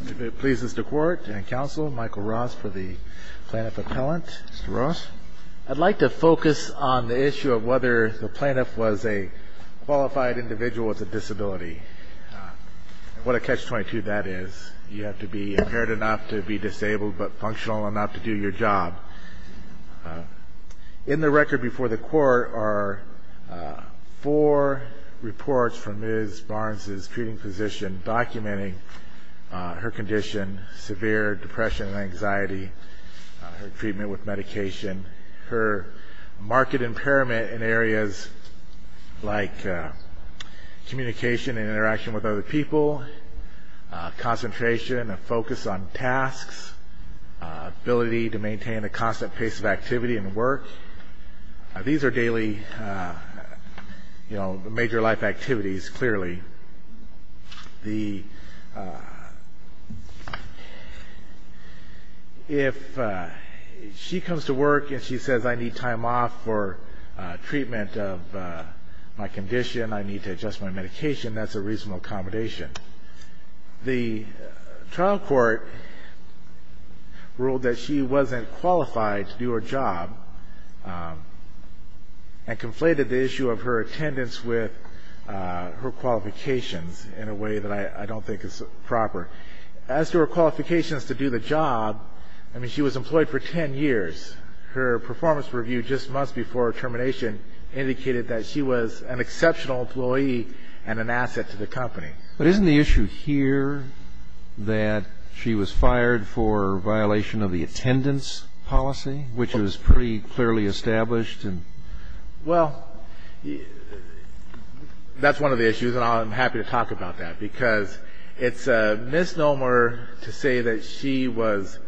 If it pleases the Court and Counsel, Michael Ross for the Plaintiff Appellant. Mr. Ross. I'd like to focus on the issue of whether the plaintiff was a qualified individual with a disability. What a catch-22 that is. You have to be impaired enough to be disabled but functional enough to do your job. In the record before the Court are four reports from Ms. Barnes' treating physician documenting her condition, severe depression and anxiety, her treatment with medication, her marked impairment in areas like communication and interaction with other people, concentration and focus on tasks, ability to maintain a constant pace of activity and work. These are daily major life activities, clearly. If she comes to work and she says, I need time off for treatment of my condition, I need to adjust my medication, that's a reasonable accommodation. The trial court ruled that she wasn't qualified to do her job and conflated the issue of her attendance with her qualifications in a way that I don't think is proper. As to her qualifications to do the job, I mean, she was employed for ten years. Her performance review just months before termination indicated that she was an exceptional employee and an asset to the company. But isn't the issue here that she was fired for violation of the attendance policy, which was pretty clearly established? Well, that's one of the issues, and I'm happy to talk about that, because it's a misnomer to say that she was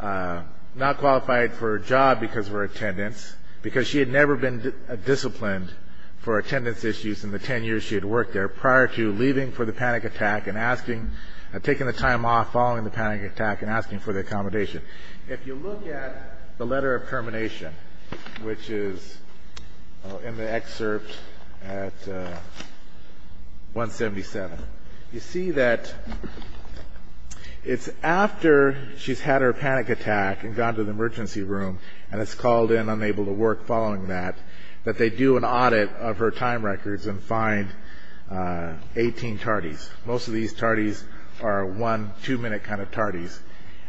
not qualified for a job because of her attendance, because she had never been disciplined for attendance issues in the ten years she had worked there prior to leaving for the panic attack and taking the time off following the panic attack and asking for the accommodation. If you look at the letter of termination, which is in the excerpt at 177, you see that it's after she's had her panic attack and gone to the emergency room and is called in unable to work following that, that they do an audit of her time records and find 18 tardies. Most of these tardies are one, two-minute kind of tardies.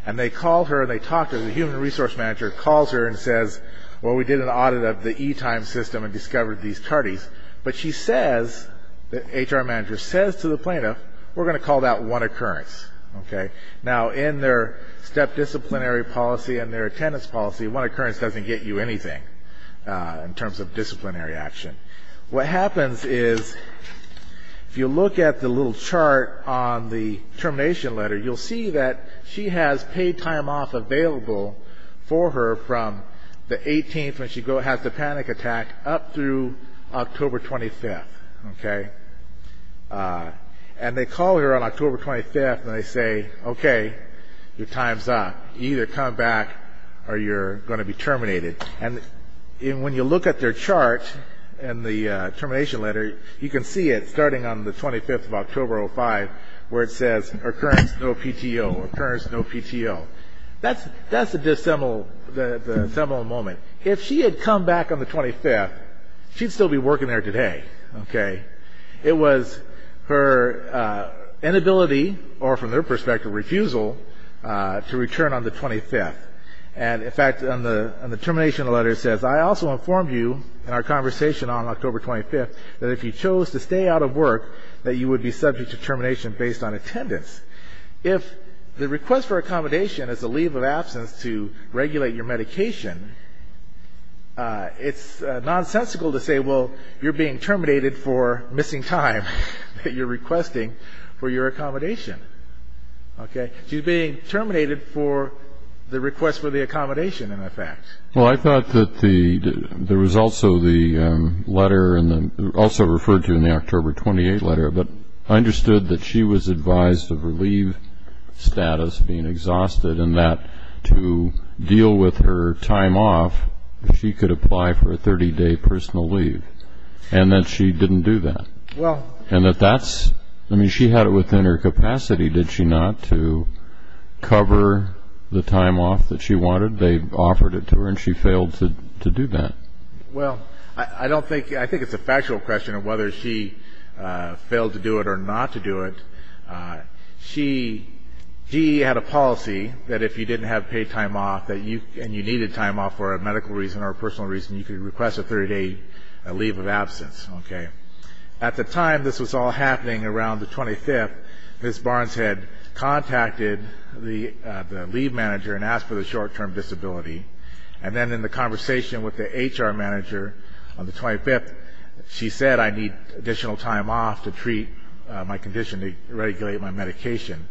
And they call her and they talk to her. The human resource manager calls her and says, well, we did an audit of the e-time system and discovered these tardies. But she says, the HR manager says to the plaintiff, we're going to call that one occurrence. Now, in their step disciplinary policy and their attendance policy, one occurrence doesn't get you anything in terms of disciplinary action. What happens is if you look at the little chart on the termination letter, you'll see that she has paid time off available for her from the 18th when she has the panic attack up through October 25th. And they call her on October 25th and they say, okay, your time's up. You either come back or you're going to be terminated. And when you look at their chart in the termination letter, you can see it starting on the 25th of October 2005 where it says, occurrence, no PTO, occurrence, no PTO. That's a dissembled moment. If she had come back on the 25th, she'd still be working there today, okay? It was her inability or, from their perspective, refusal to return on the 25th. And, in fact, on the termination letter it says, I also informed you in our conversation on October 25th that if you chose to stay out of work, that you would be subject to termination based on attendance. If the request for accommodation is a leave of absence to regulate your medication, it's nonsensical to say, well, you're being terminated for missing time that you're requesting for your accommodation, okay? She's being terminated for the request for the accommodation, in effect. Well, I thought that there was also the letter, also referred to in the October 28th letter, but I understood that she was advised of her leave status being exhausted and that to deal with her time off she could apply for a 30-day personal leave and that she didn't do that. And that that's, I mean, she had it within her capacity, did she not, to cover the time off that she wanted? They offered it to her and she failed to do that. Well, I don't think, I think it's a factual question of whether she failed to do it or not to do it. She had a policy that if you didn't have paid time off and you needed time off for a medical reason or a personal reason, you could request a 30-day leave of absence, okay? At the time this was all happening around the 25th, Ms. Barnes had contacted the leave manager and asked for the short-term disability. And then in the conversation with the HR manager on the 25th, she said, I need additional time off to treat my condition, to regulate my medication.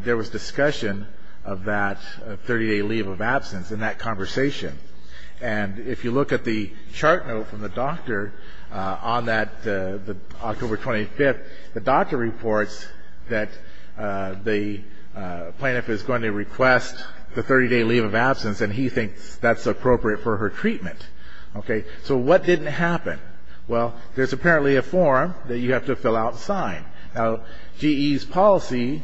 There was discussion of that 30-day leave of absence in that conversation. And if you look at the chart note from the doctor on that October 25th, the doctor reports that the plaintiff is going to request the 30-day leave of absence and he thinks that's appropriate for her treatment. Okay, so what didn't happen? Well, there's apparently a form that you have to fill out and sign. Now, GE's policy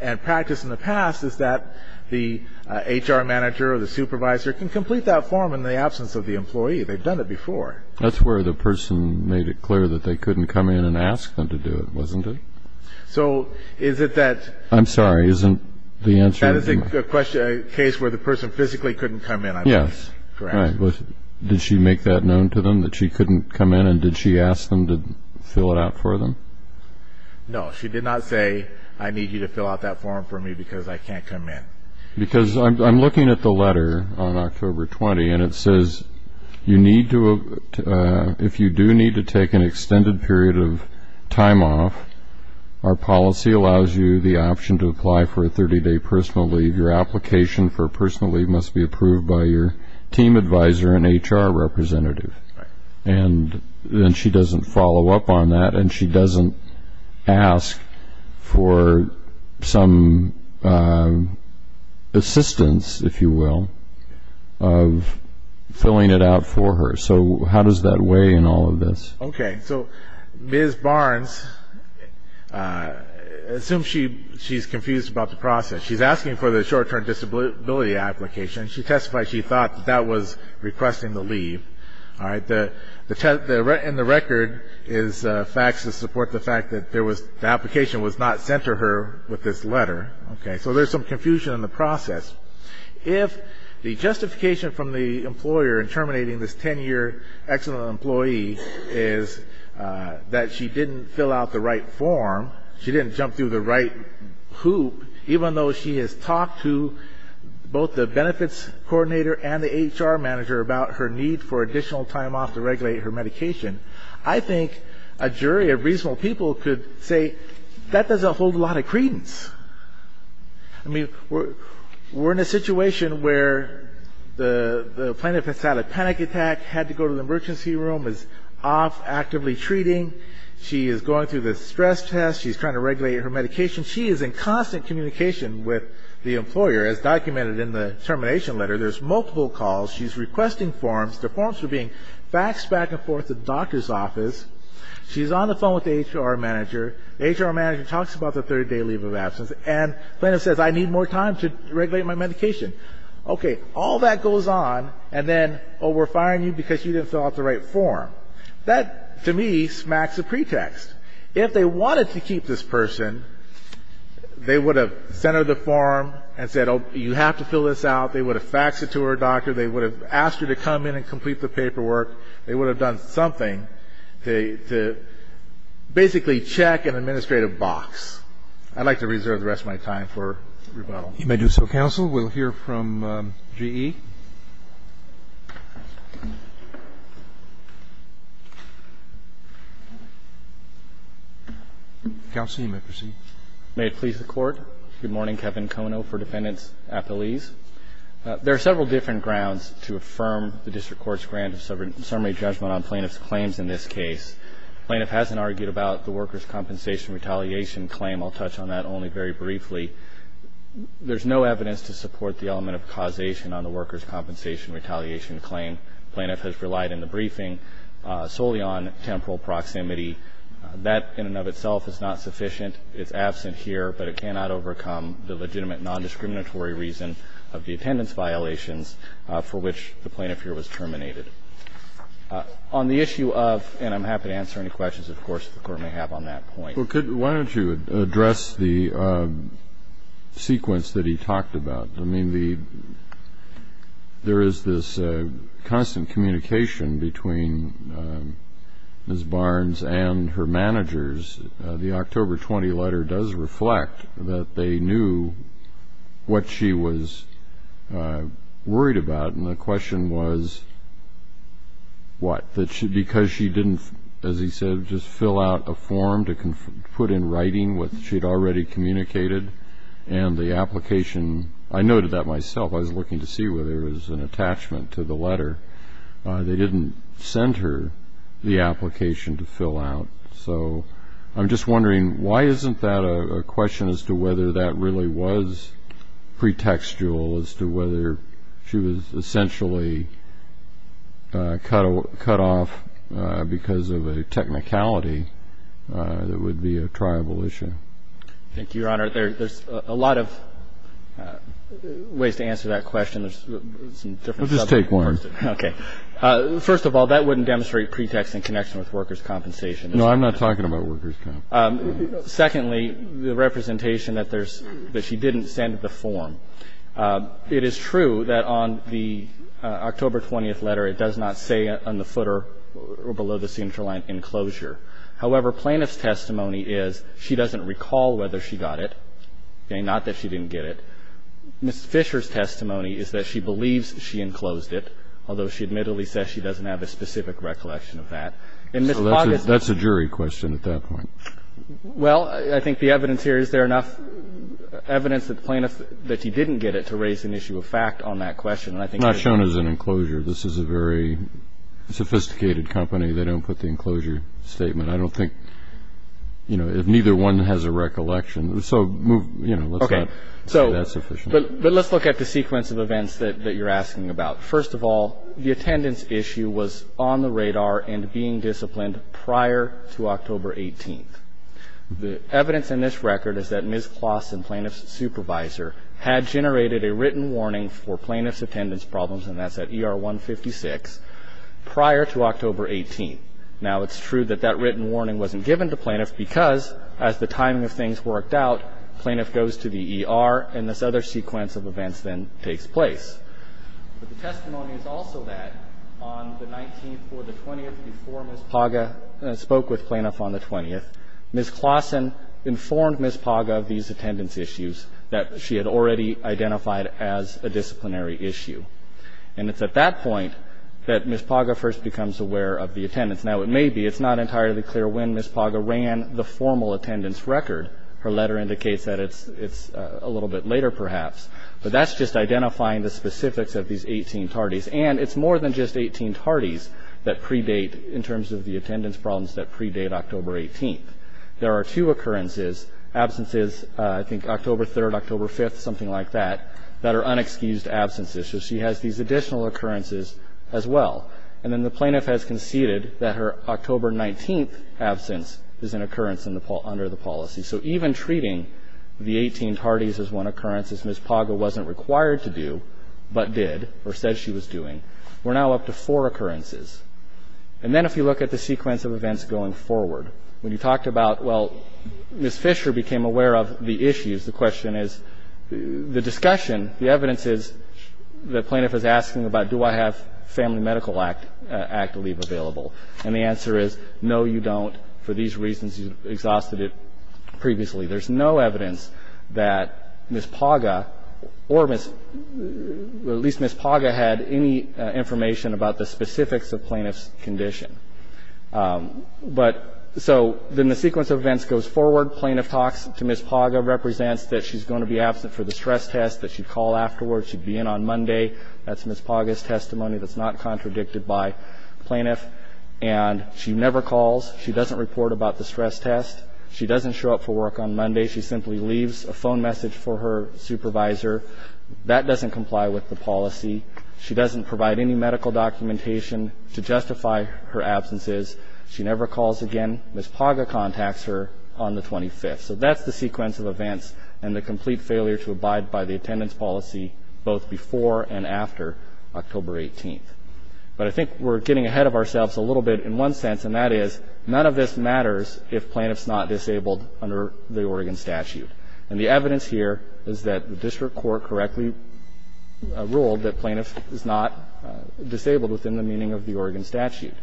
and practice in the past is that the HR manager or the supervisor can complete that form in the absence of the employee. They've done it before. That's where the person made it clear that they couldn't come in and ask them to do it, wasn't it? So is it that the person physically couldn't come in? Yes. Did she make that known to them that she couldn't come in and did she ask them to fill it out for them? No. She did not say, I need you to fill out that form for me because I can't come in. Because I'm looking at the letter on October 20th and it says, if you do need to take an extended period of time off, our policy allows you the option to apply for a 30-day personal leave. Your application for a personal leave must be approved by your team advisor and HR representative. Right. And then she doesn't follow up on that and she doesn't ask for some assistance, if you will, of filling it out for her. So how does that weigh in all of this? Okay. So Ms. Barnes, assume she's confused about the process. She's asking for the short-term disability application. She testified she thought that that was requesting the leave. All right. And the record is facts that support the fact that the application was not sent to her with this letter. Okay. So there's some confusion in the process. If the justification from the employer in terminating this 10-year excellent employee is that she didn't fill out the right form, she didn't jump through the right hoop, even though she has talked to both the benefits coordinator and the HR manager about her need for additional time off to regulate her medication, I think a jury of reasonable people could say that doesn't hold a lot of credence. I mean, we're in a situation where the plaintiff has had a panic attack, had to go to the emergency room, is off actively treating, she is going through the stress test, she's trying to regulate her medication. She is in constant communication with the employer, as documented in the termination letter. There's multiple calls. She's requesting forms. The forms are being faxed back and forth to the doctor's office. She's on the phone with the HR manager. The HR manager talks about the 30-day leave of absence, and the plaintiff says, I need more time to regulate my medication. Okay. All that goes on, and then, oh, we're firing you because you didn't fill out the right form. That, to me, smacks a pretext. If they wanted to keep this person, they would have centered the form and said, oh, you have to fill this out. They would have faxed it to her doctor. They would have asked her to come in and complete the paperwork. They would have done something to basically check an administrative box. I'd like to reserve the rest of my time for rebuttal. You may do so, counsel. We'll hear from GE. Counsel, you may proceed. May it please the Court. Good morning. Kevin Kono for Defendants Appellees. There are several different grounds to affirm the district court's grant of summary judgment on plaintiff's claims in this case. The plaintiff hasn't argued about the workers' compensation retaliation claim. I'll touch on that only very briefly. There's no evidence to support the element of causation on the workers' compensation retaliation claim. The plaintiff has relied in the briefing solely on temporal proximity. That in and of itself is not sufficient. It's absent here, but it cannot overcome the legitimate nondiscriminatory reason of the attendance violations for which the plaintiff here was terminated. On the issue of, and I'm happy to answer any questions, of course, the Court may have on that point. Well, why don't you address the sequence that he talked about? I mean, there is this constant communication between Ms. Barnes and her managers. The October 20 letter does reflect that they knew what she was worried about, and the question was what? Because she didn't, as he said, just fill out a form to put in writing what she had already communicated and the application. I noted that myself. I was looking to see whether there was an attachment to the letter. They didn't send her the application to fill out. So I'm just wondering, why isn't that a question as to whether that really was a pretextual as to whether she was essentially cut off because of a technicality that would be a triable issue? Thank you, Your Honor. There's a lot of ways to answer that question. There's some different subjects. Well, just take one. Okay. First of all, that wouldn't demonstrate pretext in connection with workers' compensation. No, I'm not talking about workers' compensation. Secondly, the representation that there's – that she didn't send the form. It is true that on the October 20 letter it does not say on the footer or below the central line, enclosure. However, plaintiff's testimony is she doesn't recall whether she got it, okay, not that she didn't get it. Ms. Fisher's testimony is that she believes she enclosed it, although she admittedly says she doesn't have a specific recollection of that. So that's a jury question at that point. Well, I think the evidence here, is there enough evidence that the plaintiff – that she didn't get it to raise an issue of fact on that question? Not shown as an enclosure. This is a very sophisticated company. They don't put the enclosure statement. I don't think – you know, neither one has a recollection. So, you know, let's not say that sufficiently. But let's look at the sequence of events that you're asking about. First of all, the attendance issue was on the radar and being disciplined prior to October 18th. The evidence in this record is that Ms. Kloss and plaintiff's supervisor had generated a written warning for plaintiff's attendance problems, and that's at ER 156, prior to October 18th. Now, it's true that that written warning wasn't given to plaintiff because, as the timing of things worked out, plaintiff goes to the ER, and this other sequence of events then takes place. But the testimony is also that on the 19th or the 20th, before Ms. Paga spoke with plaintiff on the 20th, Ms. Klossen informed Ms. Paga of these attendance issues that she had already identified as a disciplinary issue. And it's at that point that Ms. Paga first becomes aware of the attendance. Now, it may be it's not entirely clear when Ms. Paga ran the formal attendance record. Her letter indicates that it's a little bit later, perhaps. But that's just identifying the specifics of these 18 tardies. And it's more than just 18 tardies that predate, in terms of the attendance problems, that predate October 18th. There are two occurrences, absences, I think October 3rd, October 5th, something like that, that are unexcused absences. So she has these additional occurrences as well. And then the plaintiff has conceded that her October 19th absence is an occurrence under the policy. So even treating the 18 tardies as one occurrence, as Ms. Paga wasn't required to do, but did or said she was doing, we're now up to four occurrences. And then if you look at the sequence of events going forward, when you talked about well, Ms. Fisher became aware of the issues, the question is, the discussion, the evidence is the plaintiff is asking about do I have family medical act leave available. And the answer is no, you don't. And for these reasons, you exhausted it previously. There's no evidence that Ms. Paga, or at least Ms. Paga had any information about the specifics of plaintiff's condition. But so then the sequence of events goes forward. Plaintiff talks to Ms. Paga, represents that she's going to be absent for the stress test, that she'd call afterwards, she'd be in on Monday. That's Ms. Paga's testimony that's not contradicted by plaintiff. And she never calls. She doesn't report about the stress test. She doesn't show up for work on Monday. She simply leaves a phone message for her supervisor. That doesn't comply with the policy. She doesn't provide any medical documentation to justify her absences. She never calls again. Ms. Paga contacts her on the 25th. So that's the sequence of events and the complete failure to abide by the attendance policy both before and after October 18th. But I think we're getting ahead of ourselves a little bit in one sense, and that is none of this matters if plaintiff's not disabled under the Oregon statute. And the evidence here is that the district court correctly ruled that plaintiff is not disabled within the meaning of the Oregon statute.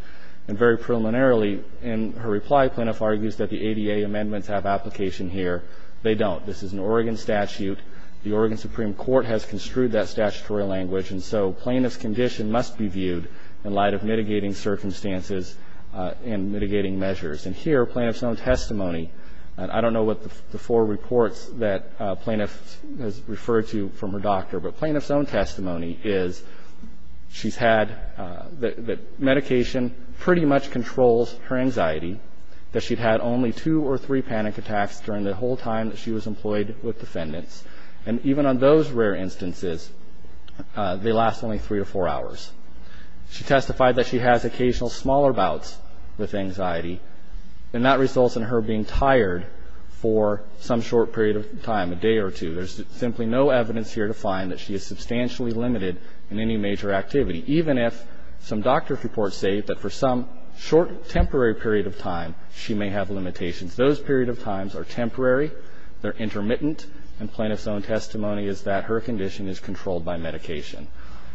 And very preliminarily in her reply, plaintiff argues that the ADA amendments have application here. They don't. This is an Oregon statute. The Oregon Supreme Court has construed that statutory language. And so plaintiff's condition must be viewed in light of mitigating circumstances and mitigating measures. And here, plaintiff's own testimony, and I don't know what the four reports that plaintiff has referred to from her doctor, but plaintiff's own testimony is she's had that medication pretty much controls her anxiety, that she'd had only two or three panic attacks during the whole time that she was employed with defendants. And even on those rare instances, they last only three or four hours. She testified that she has occasional smaller bouts with anxiety, and that results in her being tired for some short period of time, a day or two. There's simply no evidence here to find that she is substantially limited in any major activity, even if some doctor's reports say that for some short, temporary period of time, she may have limitations. Those period of times are temporary. They're intermittent. And plaintiff's own testimony is that her condition is controlled by medication.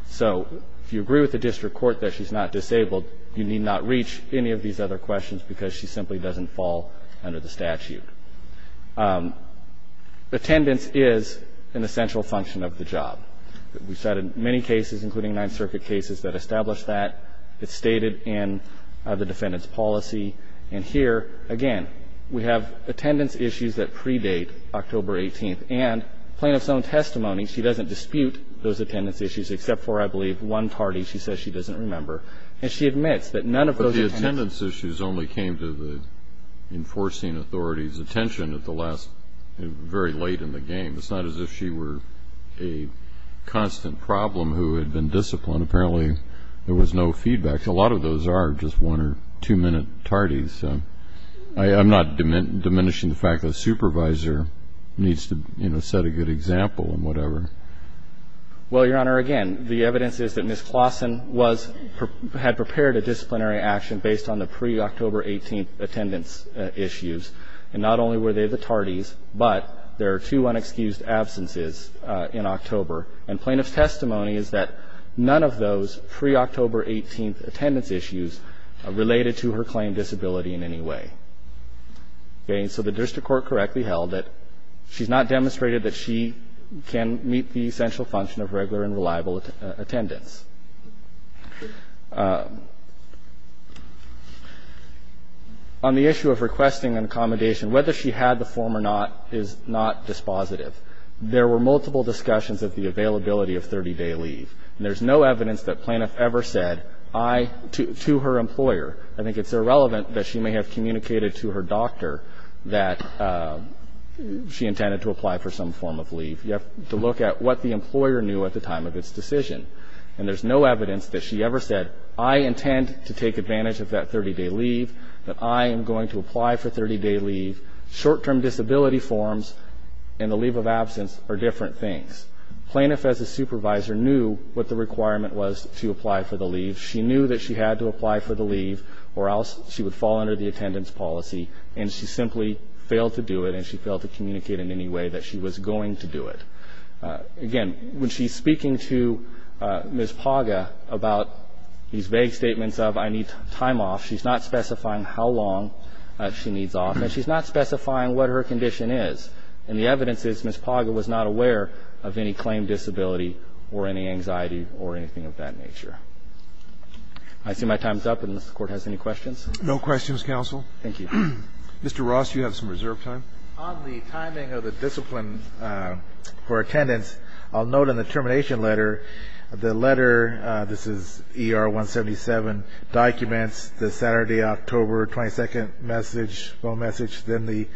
So if you agree with the district court that she's not disabled, you need not reach any of these other questions because she simply doesn't fall under the statute. Attendance is an essential function of the job. We've cited many cases, including Ninth Circuit cases, that establish that. It's stated in the defendant's policy. And here, again, we have attendance issues that predate October 18th. And plaintiff's own testimony, she doesn't dispute those attendance issues, except for, I believe, one tardy she says she doesn't remember. And she admits that none of those attendance issues. But the attendance issues only came to the enforcing authority's attention at the last very late in the game. It's not as if she were a constant problem who had been disciplined. Apparently, there was no feedback. In fact, a lot of those are just one- or two-minute tardies. I'm not diminishing the fact that a supervisor needs to, you know, set a good example and whatever. Well, Your Honor, again, the evidence is that Ms. Claussen was or had prepared a disciplinary action based on the pre-October 18th attendance issues. And not only were they the tardies, but there are two unexcused absences in October. And plaintiff's testimony is that none of those pre-October 18th attendance issues related to her claim disability in any way. Okay. So the district court correctly held that she's not demonstrated that she can meet the essential function of regular and reliable attendance. On the issue of requesting an accommodation, whether she had the form or not is not dispositive. There were multiple discussions of the availability of 30-day leave. And there's no evidence that plaintiff ever said, I, to her employer. I think it's irrelevant that she may have communicated to her doctor that she intended to apply for some form of leave. You have to look at what the employer knew at the time of its decision. And there's no evidence that she ever said, I intend to take advantage of that 30-day leave, that I am going to apply for 30-day leave. Short-term disability forms and the leave of absence are different things. Plaintiff, as a supervisor, knew what the requirement was to apply for the leave. She knew that she had to apply for the leave or else she would fall under the attendance policy. And she simply failed to do it, and she failed to communicate in any way that she was going to do it. Again, when she's speaking to Ms. Paga about these vague statements of, I need time off, she's not specifying how long she needs off. And she's not specifying what her condition is. And the evidence is Ms. Paga was not aware of any claim disability or any anxiety or anything of that nature. I see my time is up. And does the Court have any questions? No questions, Counsel. Thank you. Mr. Ross, you have some reserve time. On the timing of the discipline for attendance, I'll note in the termination letter, the letter, this is ER 177, documents the Saturday, October 22nd message, phone message, then the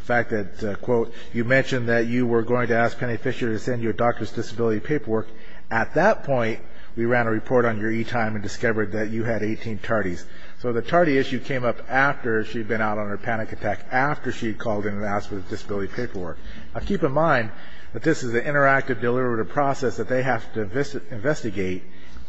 fact that, quote, you mentioned that you were going to ask Penny Fisher to send you a doctor's disability paperwork. At that point, we ran a report on your e-time and discovered that you had 18 tardies. So the tardy issue came up after she had been out on her panic attack, after she had called in and asked for the disability paperwork. Now, keep in mind that this is an interactive deliberative process that they have to investigate.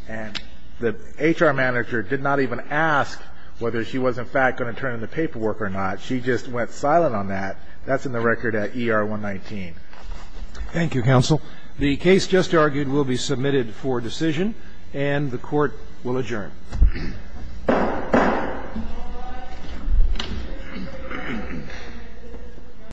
And the HR manager did not even ask whether she was, in fact, going to turn in the paperwork or not. She just went silent on that. That's in the record at ER 119. Thank you, Counsel. The case just argued will be submitted for decision, and the Court will adjourn.